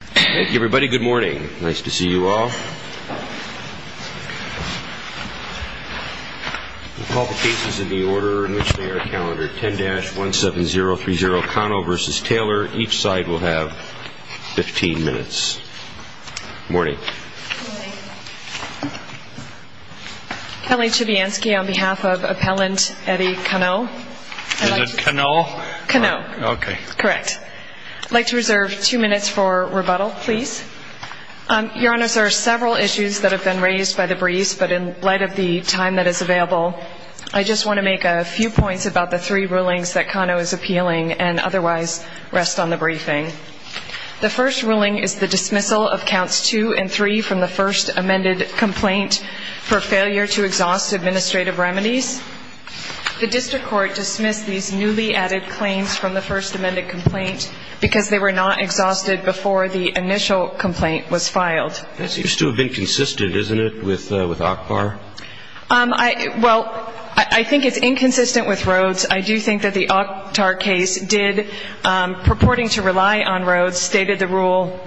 Thank you everybody. Good morning. Nice to see you all. We'll call the cases in the order in which they are calendared. 10-17030 Cano v. Taylor. Each side will have 15 minutes. Good morning. Good morning. Kelly Chebianski on behalf of Appellant Eddie Cano. Is it Cano? Cano. Okay. Correct. I'd like to reserve two minutes for rebuttal, please. Your Honors, there are several issues that have been raised by the briefs, but in light of the time that is available, I just want to make a few points about the three rulings that Cano is appealing and otherwise rest on the briefing. The first ruling is the dismissal of counts 2 and 3 from the first amended complaint for failure to exhaust administrative remedies. The district court dismissed these newly added claims from the first amended complaint because they were not exhausted before the initial complaint was filed. That seems to have been consistent, isn't it, with ACBAR? Well, I think it's inconsistent with Rhodes. I do think that the ACBAR case did, purporting to rely on Rhodes, stated the rule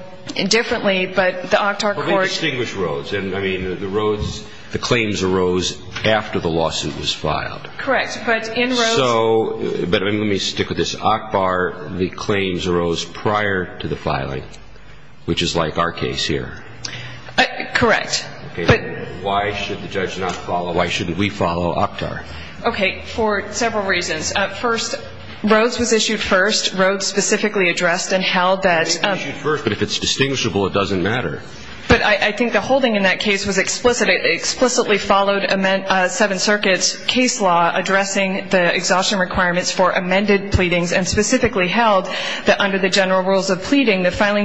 differently, but the ACBAR court distinguished Rhodes. And, I mean, the Rhodes, the claims arose after the lawsuit was filed. Correct. But in Rhodes. So, but let me stick with this. ACBAR, the claims arose prior to the filing, which is like our case here. Correct. But why should the judge not follow, why shouldn't we follow ACBAR? Okay. For several reasons. First, Rhodes was issued first. Rhodes specifically addressed and held that the filing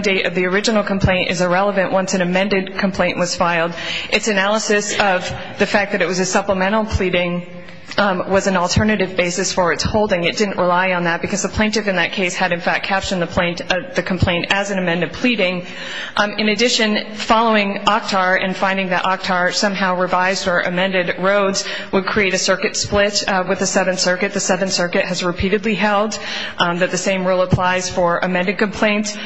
date of the original complaint is irrelevant once an amended complaint was filed. Its analysis of the fact that it was a supplemental pleading was an alternative basis for its holding. It didn't rely on that because the plaintiff in that case had, in fact, captioned the complaint as a supplemental pleading. In addition, following OCTAR and finding that OCTAR somehow revised or amended Rhodes would create a circuit split with the Seventh Circuit. The Seventh Circuit has repeatedly held that the same rule applies for amended complaints,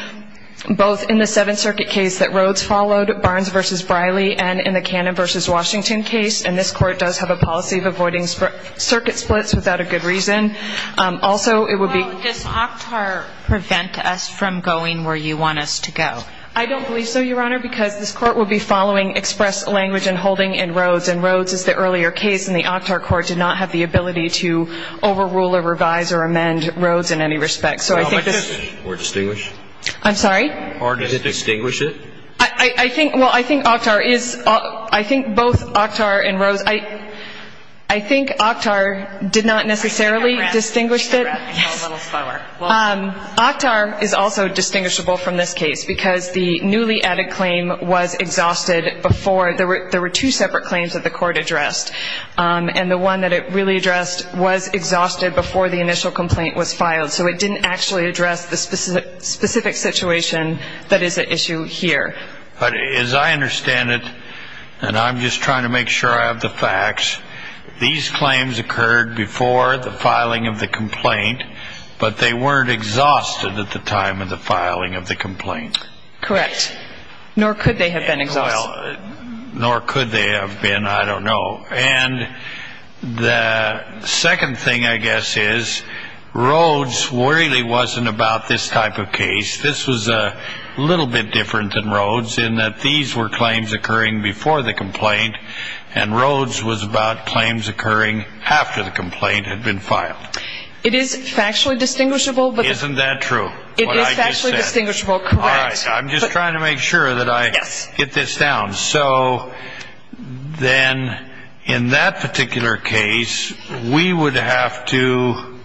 both in the Seventh Circuit case that Rhodes followed, Barnes v. Briley, and in the Cannon v. Washington case. And this court does have a policy of avoiding circuit splits without a good reason. Also, it would be Well, does OCTAR prevent us from going where you want us to go? I don't believe so, Your Honor, because this court would be following express language and holding in Rhodes. And Rhodes is the earlier case, and the OCTAR court did not have the ability to overrule or revise or amend Rhodes in any respect. So I think this I'm sorry? Or did it distinguish it? I think, well, I think OCTAR is, I think both OCTAR and Rhodes, I think OCTAR did not necessarily distinguish it. Yes. OCTAR is also distinguishable from this case because the newly added claim was exhausted before, there were two separate claims that the court addressed. And the one that it really addressed was exhausted before the initial complaint was filed. So it didn't actually address the original complaint. It addressed the specific situation that is at issue here. But as I understand it, and I'm just trying to make sure I have the facts, these claims occurred before the filing of the complaint, but they weren't exhausted at the time of the filing of the complaint. Correct. Nor could they have been exhausted. Well, nor could they have been, I don't know. And the second thing, I guess, is Rhodes really wasn't about this type of case. This was a little bit different than Rhodes in that these were claims occurring before the complaint and Rhodes was about claims occurring after the complaint had been filed. It is factually distinguishable. Isn't that true? It is factually distinguishable, correct. All right. I'm just trying to make sure that I get this down. So then in that particular case, we would have to,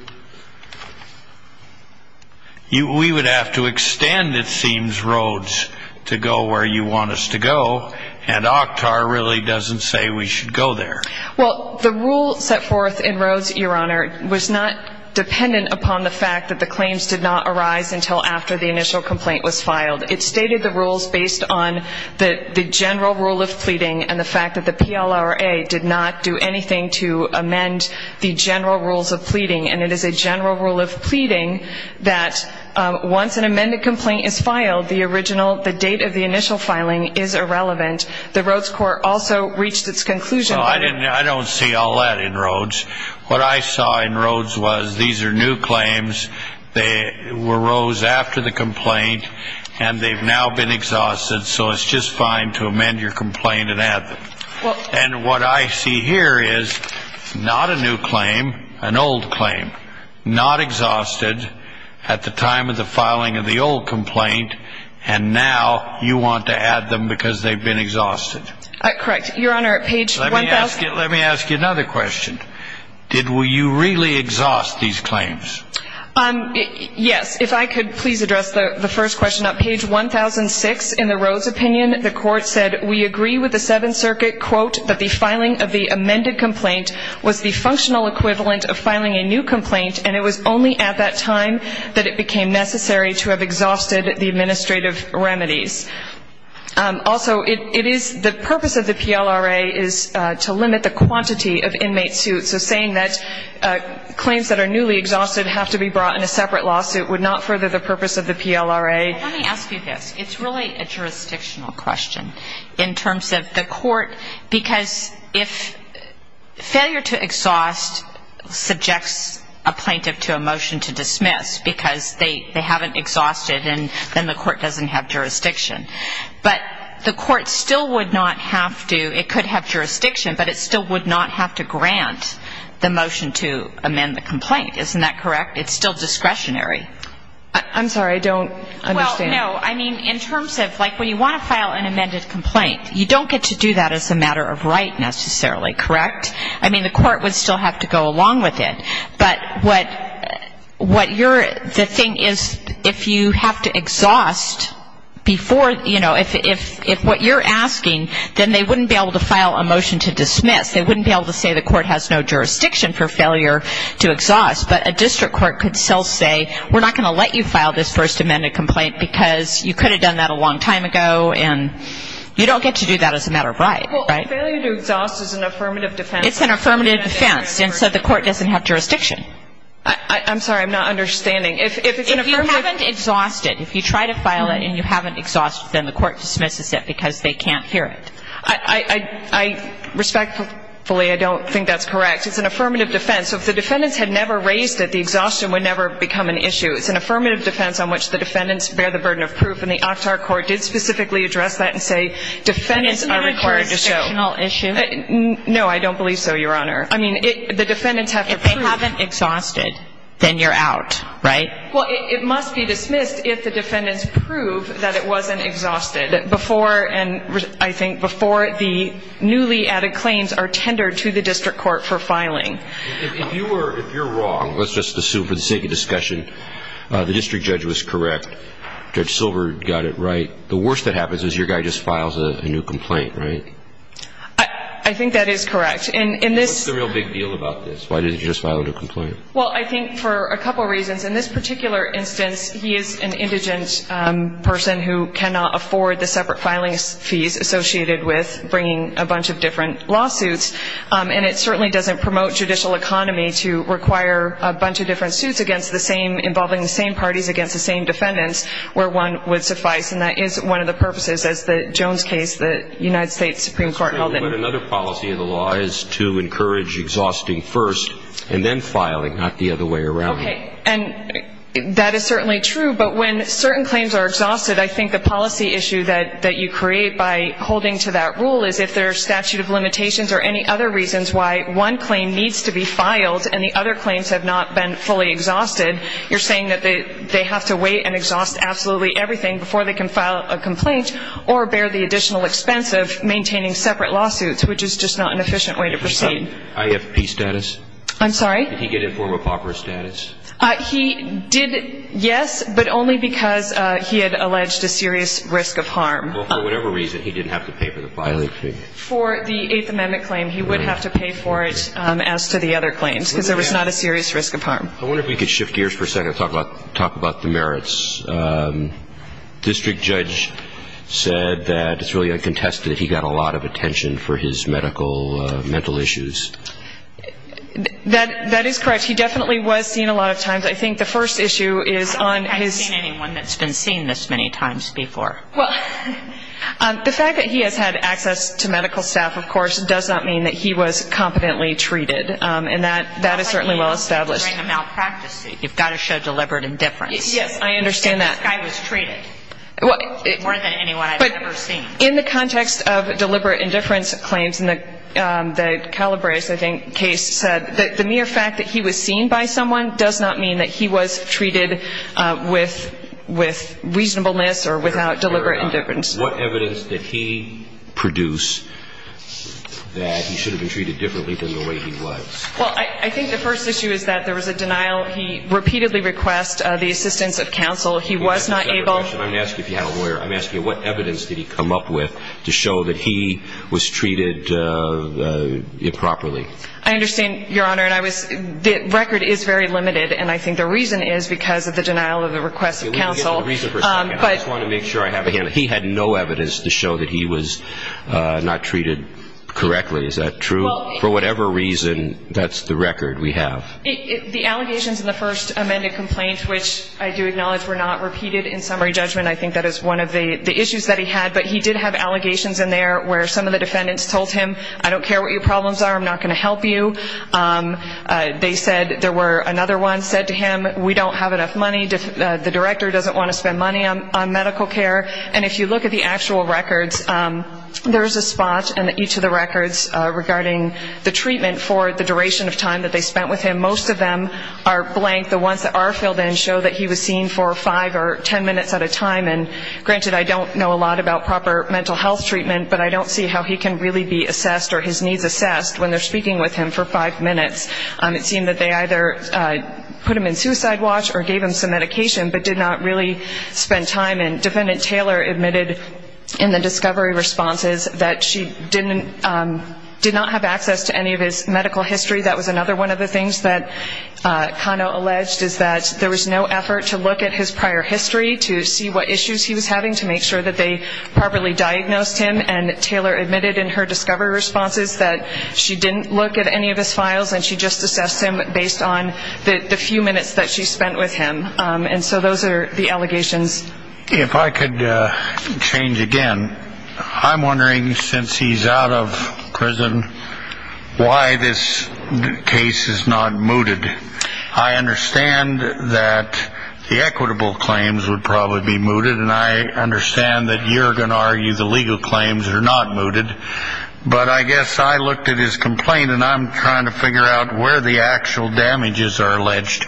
we would have to extend, it seems, Rhodes to go where you want us to go and OCTAR really doesn't say we should go there. Well, the rule set forth in Rhodes, Your Honor, was not dependent upon the fact that the claims did not arise until after the initial complaint was filed. It stated the rules based on the general rule of pleading and the fact that the PLRA did not do anything to amend the general rules of pleading. And it is a general rule of pleading that once an amended complaint is filed, the original, the date of the initial filing is irrelevant. The Rhodes court also reached its conclusion. Well, I didn't, I don't see all that in Rhodes. What I saw in Rhodes was these are new claims. They arose after the complaint and they've now been exhausted. So it's just fine to amend your complaint and add them. And what I see here is not a new claim, an old claim, not exhausted at the time of the filing of the old complaint. And now you want to add them because they've been exhausted. Correct. Your Honor, at page 1,000. Let me ask you another question. Did you really exhaust these claims? Yes. If I could please address the first question. At page 1,006 in the Rhodes opinion, the court said, we agree with the Seventh Circuit, quote, that the filing of the amended complaint was the functional equivalent of filing a new complaint and it was only at that time that it became necessary to have exhausted the administrative remedies. Also, it is, the purpose of the PLRA is to limit the quantity of inmate suits. So saying that claims that are newly exhausted have to be brought in a separate lawsuit would not further the purpose of the PLRA. Let me ask you this. It's really a jurisdictional question in terms of the court because if failure to exhaust subjects a plaintiff to a motion to dismiss because they haven't exhausted and then the court doesn't have jurisdiction. But the court still would not have to, it could have jurisdiction, but it still would not have to grant the motion to amend the complaint. Isn't that correct? It's still discretionary. I'm sorry. I don't understand. Well, no. I mean, in terms of, like, when you want to file an amended complaint, you don't get to do that as a matter of right necessarily, correct? I mean, the court would still have to go along with it. But what you're, the thing is, if you have to exhaust before, you know, if what you're asking, then they wouldn't be able to file a motion to dismiss. They wouldn't be able to say the court has no jurisdiction for failure to exhaust. But a district court could still say, we're not going to file a motion to dismiss. We're not going to let you file this first amended complaint because you could have done that a long time ago, and you don't get to do that as a matter of right, right? Well, failure to exhaust is an affirmative defense. It's an affirmative defense, and so the court doesn't have jurisdiction. I'm sorry. I'm not understanding. If it's an affirmative – If you haven't exhausted, if you try to file it and you haven't exhausted, then the court dismisses it because they can't hear it. I respectfully, I don't think that's correct. It's an affirmative defense. So if the defendants had never raised it, the exhaustion would never become an issue. It's an affirmative defense on which the defendants bear the burden of proof, and the OCTAR court did specifically address that and say defendants are required to show – Isn't that a jurisdictional issue? No, I don't believe so, Your Honor. I mean, the defendants have to prove – If they haven't exhausted, then you're out, right? Well, it must be dismissed if the defendants prove that it wasn't exhausted before, I think, before the newly added claims are tendered to the district court for filing. If you're wrong, let's just assume for the sake of discussion, the district judge was correct, Judge Silver got it right. The worst that happens is your guy just files a new complaint, right? I think that is correct. What's the real big deal about this? Why didn't you just file a new complaint? Well, I think for a couple reasons. In this particular instance, he is an indigent person who cannot afford the separate filing fees associated with bringing a bunch of different lawsuits. And it certainly doesn't promote judicial economy to require a bunch of different suits involving the same parties against the same defendants where one would suffice. And that is one of the purposes, as the Jones case, the United States Supreme Court held that – But another policy of the law is to encourage exhausting first and then filing, not the other way around. Okay. And that is certainly true. But when certain claims are exhausted, I think the policy issue that you create by holding to that rule is if there are statute of limitations or any other reasons why one claim needs to be filed and the other claims have not been fully exhausted, you're saying that they have to wait and exhaust absolutely everything before they can file a complaint or bear the additional expense of maintaining separate lawsuits, which is just not an efficient way to proceed. IFP status? I'm sorry? Did he get informal proper status? He did, yes, but only because he had alleged a serious risk of harm. Well, for whatever reason, he didn't have to pay for the filing fee. For the Eighth Amendment claim, he would have to pay for it as to the other claims because there was not a serious risk of harm. I wonder if we could shift gears for a second and talk about the merits. District judge said that it's really uncontested that he got a lot of attention for his medical – mental issues. That is correct. He definitely was seen a lot of times. I think the first issue is on his – I don't think I've seen anyone that's been seen this many times before. Well, the fact that he has had access to medical staff, of course, does not mean that he was competently treated. And that is certainly well established. It's not like he was during a malpractice suit. You've got to show deliberate indifference. Yes, I understand that. If this guy was treated more than anyone I've ever seen. But in the context of deliberate indifference claims in the Calabrese, I think, case, the mere fact that he was seen by someone does not mean that he was treated with reasonableness or without deliberate indifference. What evidence did he produce that he should have been treated differently than the way he was? Well, I think the first issue is that there was a denial. He repeatedly requested the assistance of counsel. He was not able – I'm not asking if you have a lawyer. I'm asking what evidence did he come up with to show that he was treated improperly? I understand, Your Honor, and I was – the record is very limited. I just want to make sure I have it. He had no evidence to show that he was not treated correctly. Is that true? For whatever reason, that's the record we have. The allegations in the first amended complaint, which I do acknowledge were not repeated in summary judgment, I think that is one of the issues that he had. But he did have allegations in there where some of the defendants told him, I don't care what your problems are, I'm not going to help you. They said there were – another one said to him, we don't have enough money. The director doesn't want to spend money on medical care. And if you look at the actual records, there is a spot in each of the records regarding the treatment for the duration of time that they spent with him. Most of them are blank. The ones that are filled in show that he was seen for five or ten minutes at a time. And granted, I don't know a lot about proper mental health treatment, but I don't see how he can really be assessed or his needs assessed when they're speaking with him for five minutes. It seemed that they either put him in suicide watch or gave him some medication, but did not really spend time. And Defendant Taylor admitted in the discovery responses that she didn't – did not have access to any of his medical history. That was another one of the things that Kano alleged, is that there was no effort to look at his prior history to see what issues he was having to make sure that they properly diagnosed him. And Taylor admitted in her discovery responses that she didn't look at any of his files and she just assessed him based on the few minutes that she spent with him. And so those are the allegations. If I could change again. I'm wondering, since he's out of prison, why this case is not mooted. I understand that the equitable claims would probably be mooted, and I understand that you're going to argue the legal claims are not mooted. But I guess I looked at his complaint and I'm trying to figure out where the actual damages are alleged.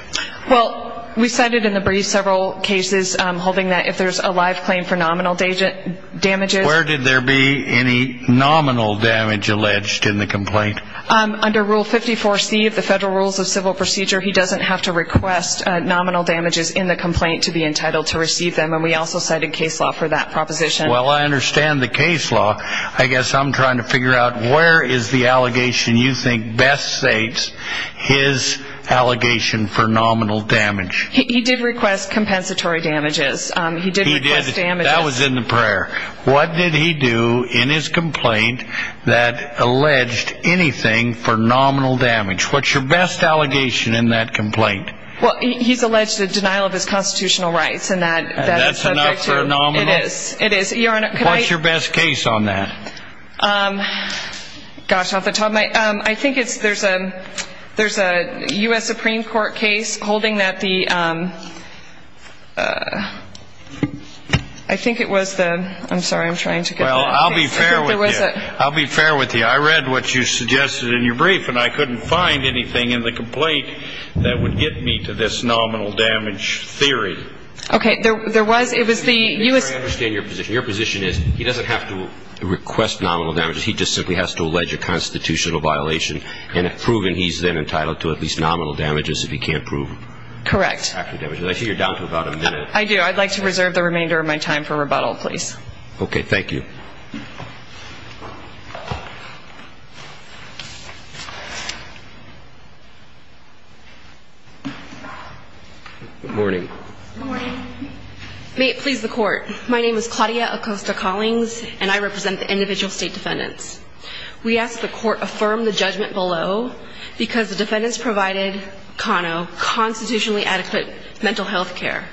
Well, we cited in the brief several cases holding that if there's a live claim for nominal damages. Where did there be any nominal damage alleged in the complaint? Under Rule 54C of the Federal Rules of Civil Procedure, he doesn't have to request nominal damages in the complaint to be entitled to receive them, and we also cited case law for that proposition. Well, I understand the case law. I guess I'm trying to figure out where is the allegation you think best states his allegation for nominal damage. He did request compensatory damages. He did request damages. That was in the prayer. What did he do in his complaint that alleged anything for nominal damage? What's your best allegation in that complaint? Well, he's alleged the denial of his constitutional rights. That's enough for a nominal? It is. It is. Your Honor, can I? What's your best case on that? Gosh, I'll have to tell my. I think there's a U.S. Supreme Court case holding that the, I think it was the, I'm sorry, I'm trying to get that. Well, I'll be fair with you. I'll be fair with you. I read what you suggested in your brief, and I couldn't find anything in the complaint that would get me to this nominal damage theory. Okay. There was, it was the U.S. I understand your position. Your position is he doesn't have to request nominal damages. He just simply has to allege a constitutional violation, and have proven he's then entitled to at least nominal damages if he can't prove. Correct. I see you're down to about a minute. I do. I'd like to reserve the remainder of my time for rebuttal, please. Okay. Thank you. Good morning. Good morning. May it please the Court, my name is Claudia Acosta-Collings, and I represent the individual state defendants. We ask the Court affirm the judgment below, because the defendants provided Kano constitutionally adequate mental health care.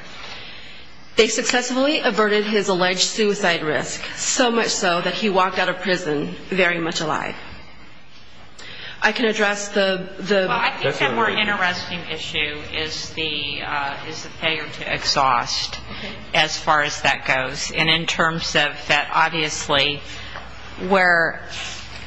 They successfully averted his alleged suicide risk, so much so, that he walked out of prison very much alive. I can address the... Well, I think the more interesting issue is the failure to exhaust, as far as that goes. And in terms of that, obviously, where,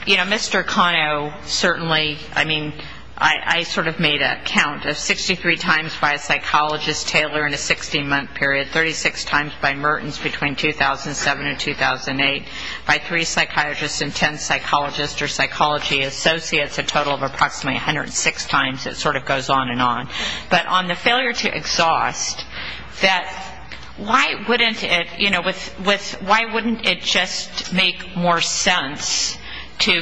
you know, Mr. Kano certainly, I mean, I sort of made a count of 63 times by a psychologist, Taylor, in a 16-month period, 36 times by Mertens between 2007 and 2008, by three psychiatrists and ten psychologists or psychology associates, a total of approximately 106 times. It sort of goes on and on. But on the failure to exhaust, that why wouldn't it, you know, why wouldn't it just make more sense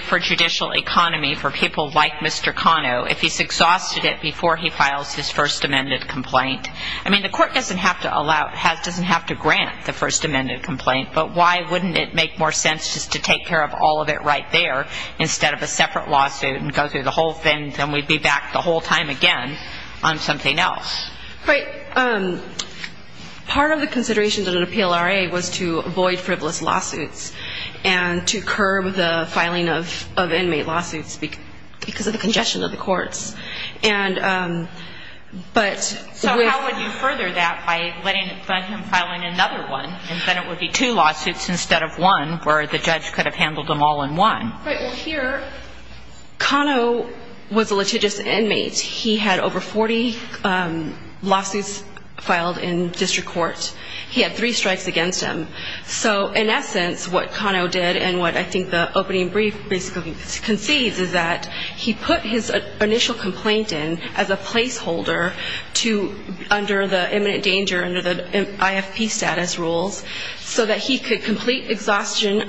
for judicial economy, for people like Mr. Kano, if he's exhausted it before he files his first amended complaint? I mean, the court doesn't have to grant the first amended complaint, but why wouldn't it make more sense just to take care of all of it right there instead of a separate lawsuit and go through the whole thing, then we'd be back the whole time again on something else? Right. Part of the considerations of an appeal RA was to avoid frivolous lawsuits and to curb the filing of inmate lawsuits because of the congestion of the courts. So how would you further that by letting him file another one and then it would be two lawsuits instead of one where the judge could have handled them all in one? Right. Well, here Kano was a litigious inmate. He had over 40 lawsuits filed in district court. He had three strikes against him. So in essence, what Kano did and what I think the opening brief basically concedes is that he put his initial complaint in as a placeholder under the imminent danger, under the IFP status rules, so that he could complete exhaustion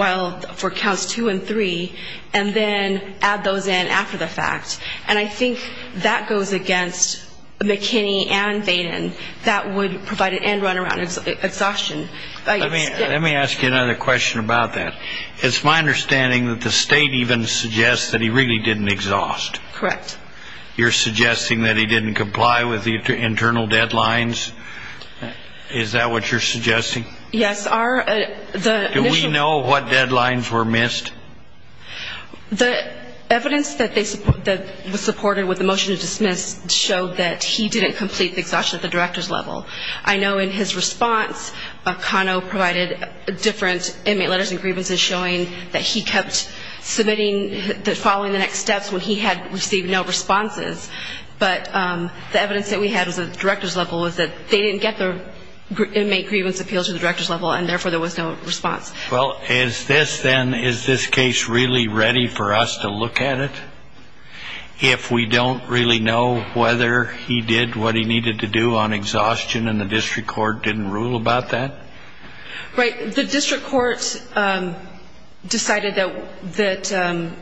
for counts two and three and then add those in after the fact. And I think that goes against McKinney and Vaden. That would provide an end-runaround exhaustion. Let me ask you another question about that. It's my understanding that the state even suggests that he really didn't exhaust. Correct. You're suggesting that he didn't comply with the internal deadlines. Is that what you're suggesting? Yes. Do we know what deadlines were missed? The evidence that was supported with the motion to dismiss showed that he didn't complete the exhaustion at the director's level. I know in his response, Kano provided different inmate letters and grievances showing that he kept submitting following the next steps when he had received no responses. But the evidence that we had was at the director's level was that they didn't get the inmate grievance appeals at the director's level, and therefore there was no response. Well, is this then, is this case really ready for us to look at it? If we don't really know whether he did what he needed to do on exhaustion and the district court didn't rule about that? Right. The district court decided that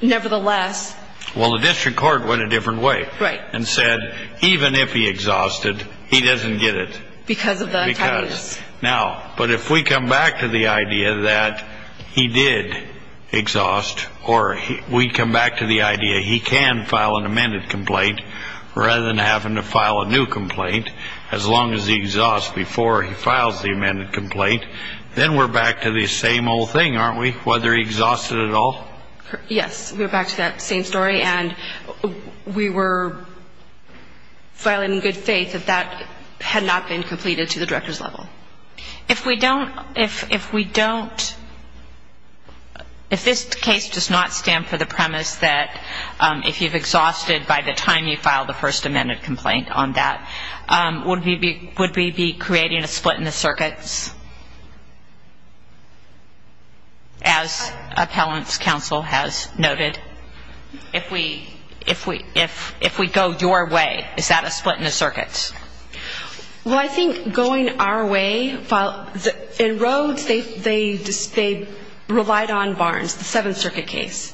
nevertheless. Well, the district court went a different way. Right. And said even if he exhausted, he doesn't get it. Because of the timeliness. Because. Now, but if we come back to the idea that he did exhaust, or we come back to the idea he can file an amended complaint, rather than having to file a new complaint, as long as he exhausts before he files the amended complaint, then we're back to the same old thing, aren't we? Whether he exhausted at all? Yes. We're back to that same story. And we were filing in good faith that that had not been completed to the director's level. If we don't, if we don't, if this case does not stand for the premise that if you've exhausted by the time you file the first amended complaint on that, would we be creating a split in the circuits, as appellant's counsel has noted? If we go your way, is that a split in the circuits? Well, I think going our way, in Rhodes, they relied on Barnes, the Seventh Circuit case.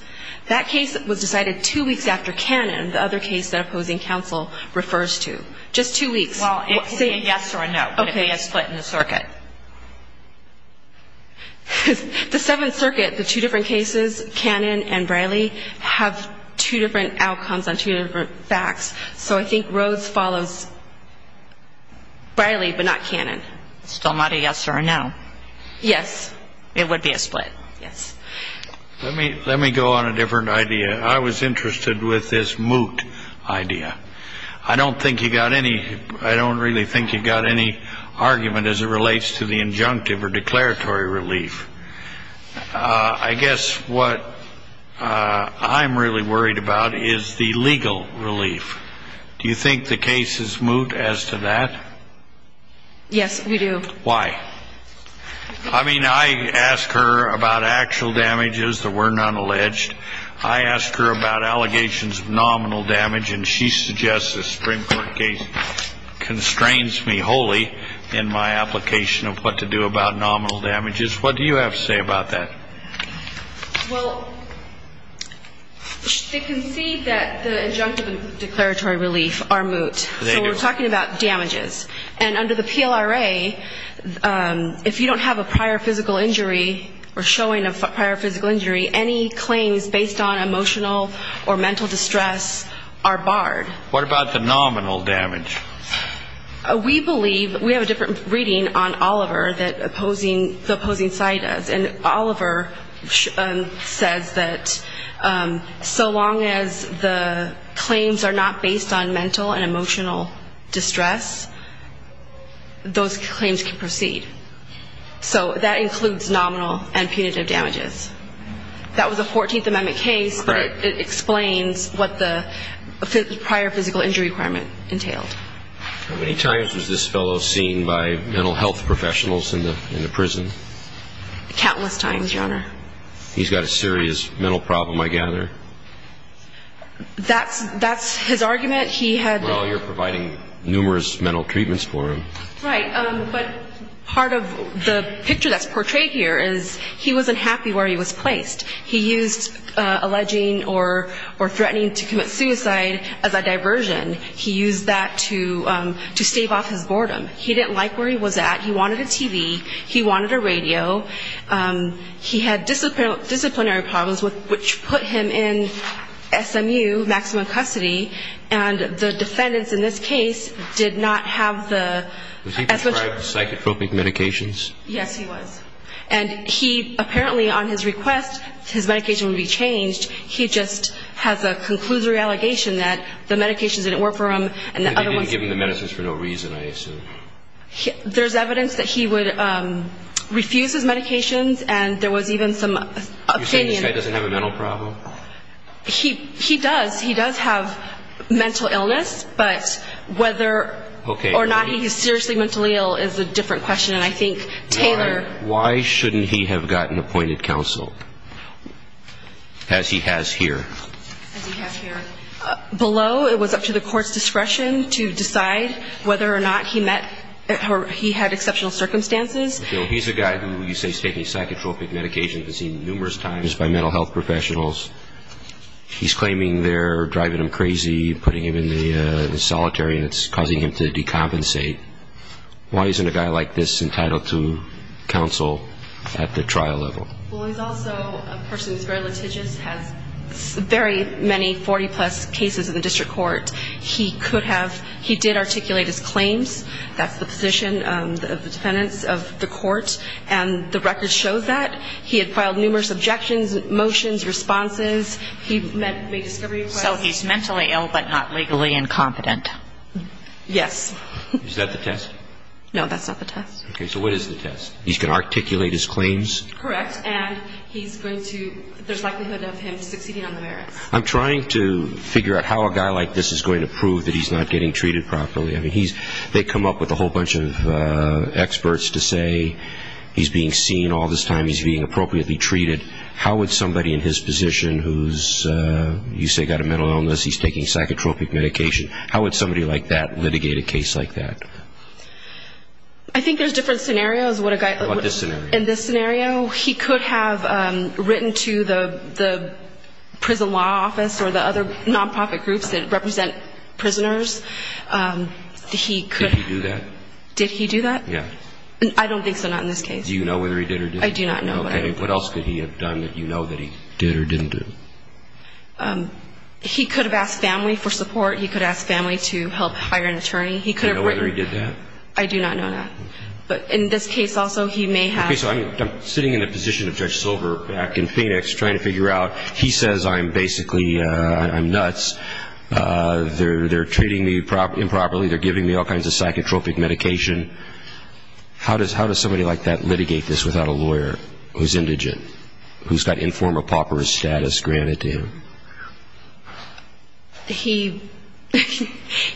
That case was decided two weeks after Cannon, the other case that opposing counsel refers to. Just two weeks. Well, it could be a yes or a no. But it would be a split in the circuit. The Seventh Circuit, the two different cases, Cannon and Briley, have two different outcomes on two different facts. So I think Rhodes follows Briley, but not Cannon. Still not a yes or a no. Yes. It would be a split. Yes. Let me go on a different idea. I was interested with this moot idea. I don't really think you've got any argument as it relates to the injunctive or declaratory relief. I guess what I'm really worried about is the legal relief. Do you think the case is moot as to that? Yes, we do. Why? I mean, I asked her about actual damages that were not alleged. I asked her about allegations of nominal damage. And she suggests the Supreme Court case constrains me wholly in my application of what to do about nominal damages. What do you have to say about that? Well, they concede that the injunctive and declaratory relief are moot. They do. So we're talking about damages. And under the PLRA, if you don't have a prior physical injury or showing a prior physical injury, any claims based on emotional or mental distress are barred. What about the nominal damage? We believe we have a different reading on Oliver that the opposing side does. And Oliver says that so long as the claims are not based on mental and emotional distress, those claims can proceed. So that includes nominal and punitive damages. That was a 14th Amendment case, but it explains what the prior physical injury requirement entailed. How many times was this fellow seen by mental health professionals in the prison? Countless times, Your Honor. He's got a serious mental problem, I gather. That's his argument. Well, you're providing numerous mental treatments for him. Right. But part of the picture that's portrayed here is he wasn't happy where he was placed. He used alleging or threatening to commit suicide as a diversion. He used that to stave off his boredom. He didn't like where he was at. He wanted a TV. He wanted a radio. He had disciplinary problems, which put him in SMU, maximum custody. And the defendants in this case did not have the... Was he prescribed psychotropic medications? Yes, he was. And he apparently, on his request, his medication would be changed. He just has a conclusory allegation that the medications didn't work for him and the other ones... That he didn't give him the medicines for no reason, I assume. There's evidence that he would refuse his medications, and there was even some... You're saying this guy doesn't have a mental problem? He does. He does have mental illness, but whether or not he's seriously mentally ill is a different question. And I think Taylor... Why shouldn't he have gotten appointed counsel, as he has here? As he has here. Below, it was up to the court's discretion to decide whether or not he met or he had exceptional circumstances. So he's a guy who you say is taking psychotropic medications, has been seen numerous times by mental health professionals. He's claiming they're driving him crazy, putting him in the solitary, and it's causing him to decompensate. Why isn't a guy like this entitled to counsel at the trial level? Well, he's also a person who's very litigious, has very many 40-plus cases in the district court. He could have... He did articulate his claims, that's the position of the defendants of the court, and the record shows that. He had filed numerous objections, motions, responses. He made discovery requests. So he's mentally ill but not legally incompetent. Yes. Is that the test? No, that's not the test. Okay, so what is the test? He's going to articulate his claims? Correct, and he's going to... there's likelihood of him succeeding on the merits. I'm trying to figure out how a guy like this is going to prove that he's not getting treated properly. I mean, they come up with a whole bunch of experts to say he's being seen all this time, he's being appropriately treated. How would somebody in his position who's, you say, got a mental illness, he's taking psychotropic medication, how would somebody like that litigate a case like that? I think there's different scenarios what a guy... What's this scenario? In this scenario, he could have written to the prison law office or the other nonprofit groups that represent prisoners. He could... Did he do that? Did he do that? Yeah. I don't think so, not in this case. Do you know whether he did or didn't? I do not know. Okay. What else could he have done that you know that he did or didn't do? He could have asked family for support. He could have asked family to help hire an attorney. He could have written... Do you know whether he did that? I do not know that. Okay. But in this case also, he may have... Okay, so I'm sitting in the position of Judge Silver back in Phoenix trying to figure out, he says I'm basically, I'm nuts, they're treating me improperly, they're giving me all kinds of psychotropic medication. How does somebody like that litigate this without a lawyer who's indigent, who's got informal pauperous status granted to him? He...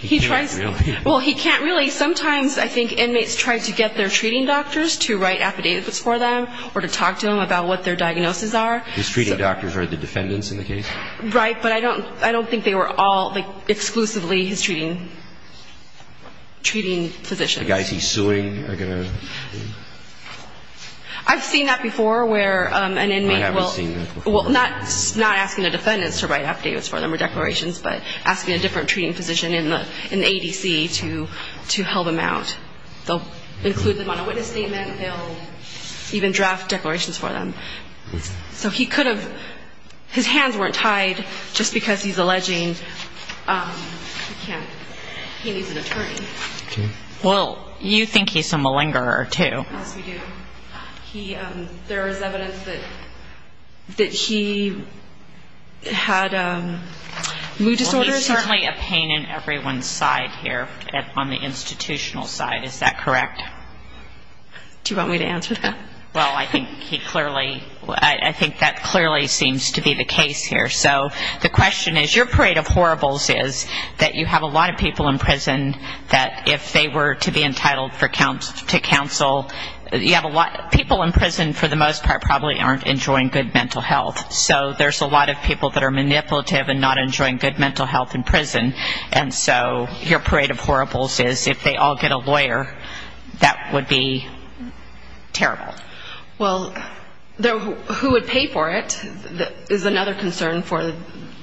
He can't really. Well, he can't really. Sometimes I think inmates try to get their treating doctors to write affidavits for them or to talk to them about what their diagnoses are. His treating doctors are the defendants in the case? Right, but I don't think they were all exclusively his treating physicians. The guys he's suing are going to... I've seen that before where an inmate will... I haven't seen that before. Well, not asking the defendants to write affidavits for them or declarations, but asking a different treating physician in the ADC to help him out. They'll include them on a witness statement. They'll even draft declarations for them. So he could have... His hands weren't tied just because he's alleging he needs an attorney. Well, you think he's a malingerer too. Yes, we do. There is evidence that he had mood disorders. Well, he's certainly a pain in everyone's side here on the institutional side. Is that correct? Do you want me to answer that? Well, I think he clearly... I think that clearly seems to be the case here. So the question is, your parade of horribles is that you have a lot of people in prison that if they were to be entitled to counsel, you have a lot... People in prison for the most part probably aren't enjoying good mental health. So there's a lot of people that are manipulative and not enjoying good mental health in prison. And so your parade of horribles is if they all get a lawyer, that would be terrible. Well, who would pay for it is another concern for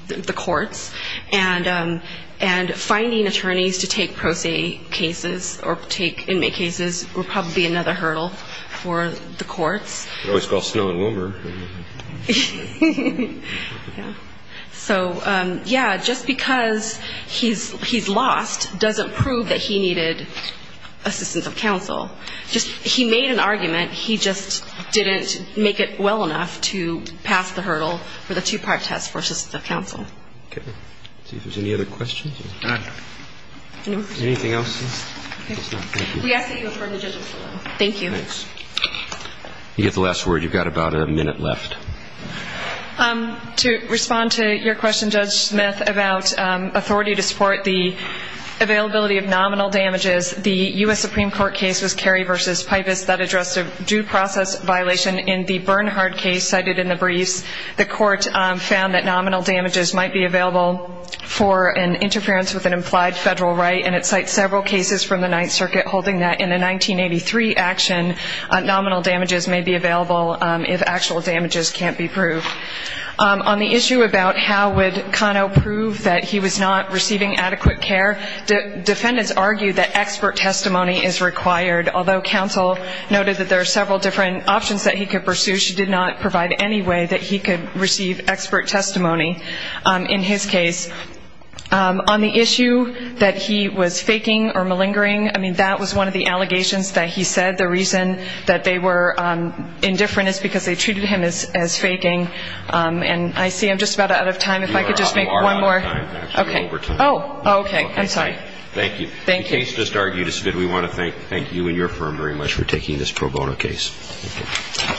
the courts. And finding attorneys to take pro se cases or take inmate cases would probably be another hurdle for the courts. They always call Snow and Woomer. So, yeah, just because he's lost doesn't prove that he needed assistance of counsel. He made an argument. He just didn't make it well enough to pass the hurdle for the two-part test for assistance of counsel. Okay. Let's see if there's any other questions. Anything else? We ask that you affirm the judgment. Thank you. Thanks. You get the last word. You've got about a minute left. To respond to your question, Judge Smith, about authority to support the availability of nominal damages, the U.S. Supreme Court case was Carey v. Pipus that addressed a due process violation. In the Bernhardt case cited in the briefs, the court found that nominal damages might be available for an interference with an implied federal right, and it cites several cases from the Ninth Circuit holding that in a 1983 action, nominal damages may be available if actual damages can't be proved. On the issue about how would Cano prove that he was not receiving adequate care, defendants argued that expert testimony is required, although counsel noted that there are several different options that he could pursue. She did not provide any way that he could receive expert testimony in his case. On the issue that he was faking or malingering, I mean, that was one of the allegations that he said. The reason that they were indifferent is because they treated him as faking. And I see I'm just about out of time. If I could just make one more. Okay. Oh, okay. I'm sorry. Thank you. The case just argued is good. We want to thank you and your firm very much for taking this pro bono case.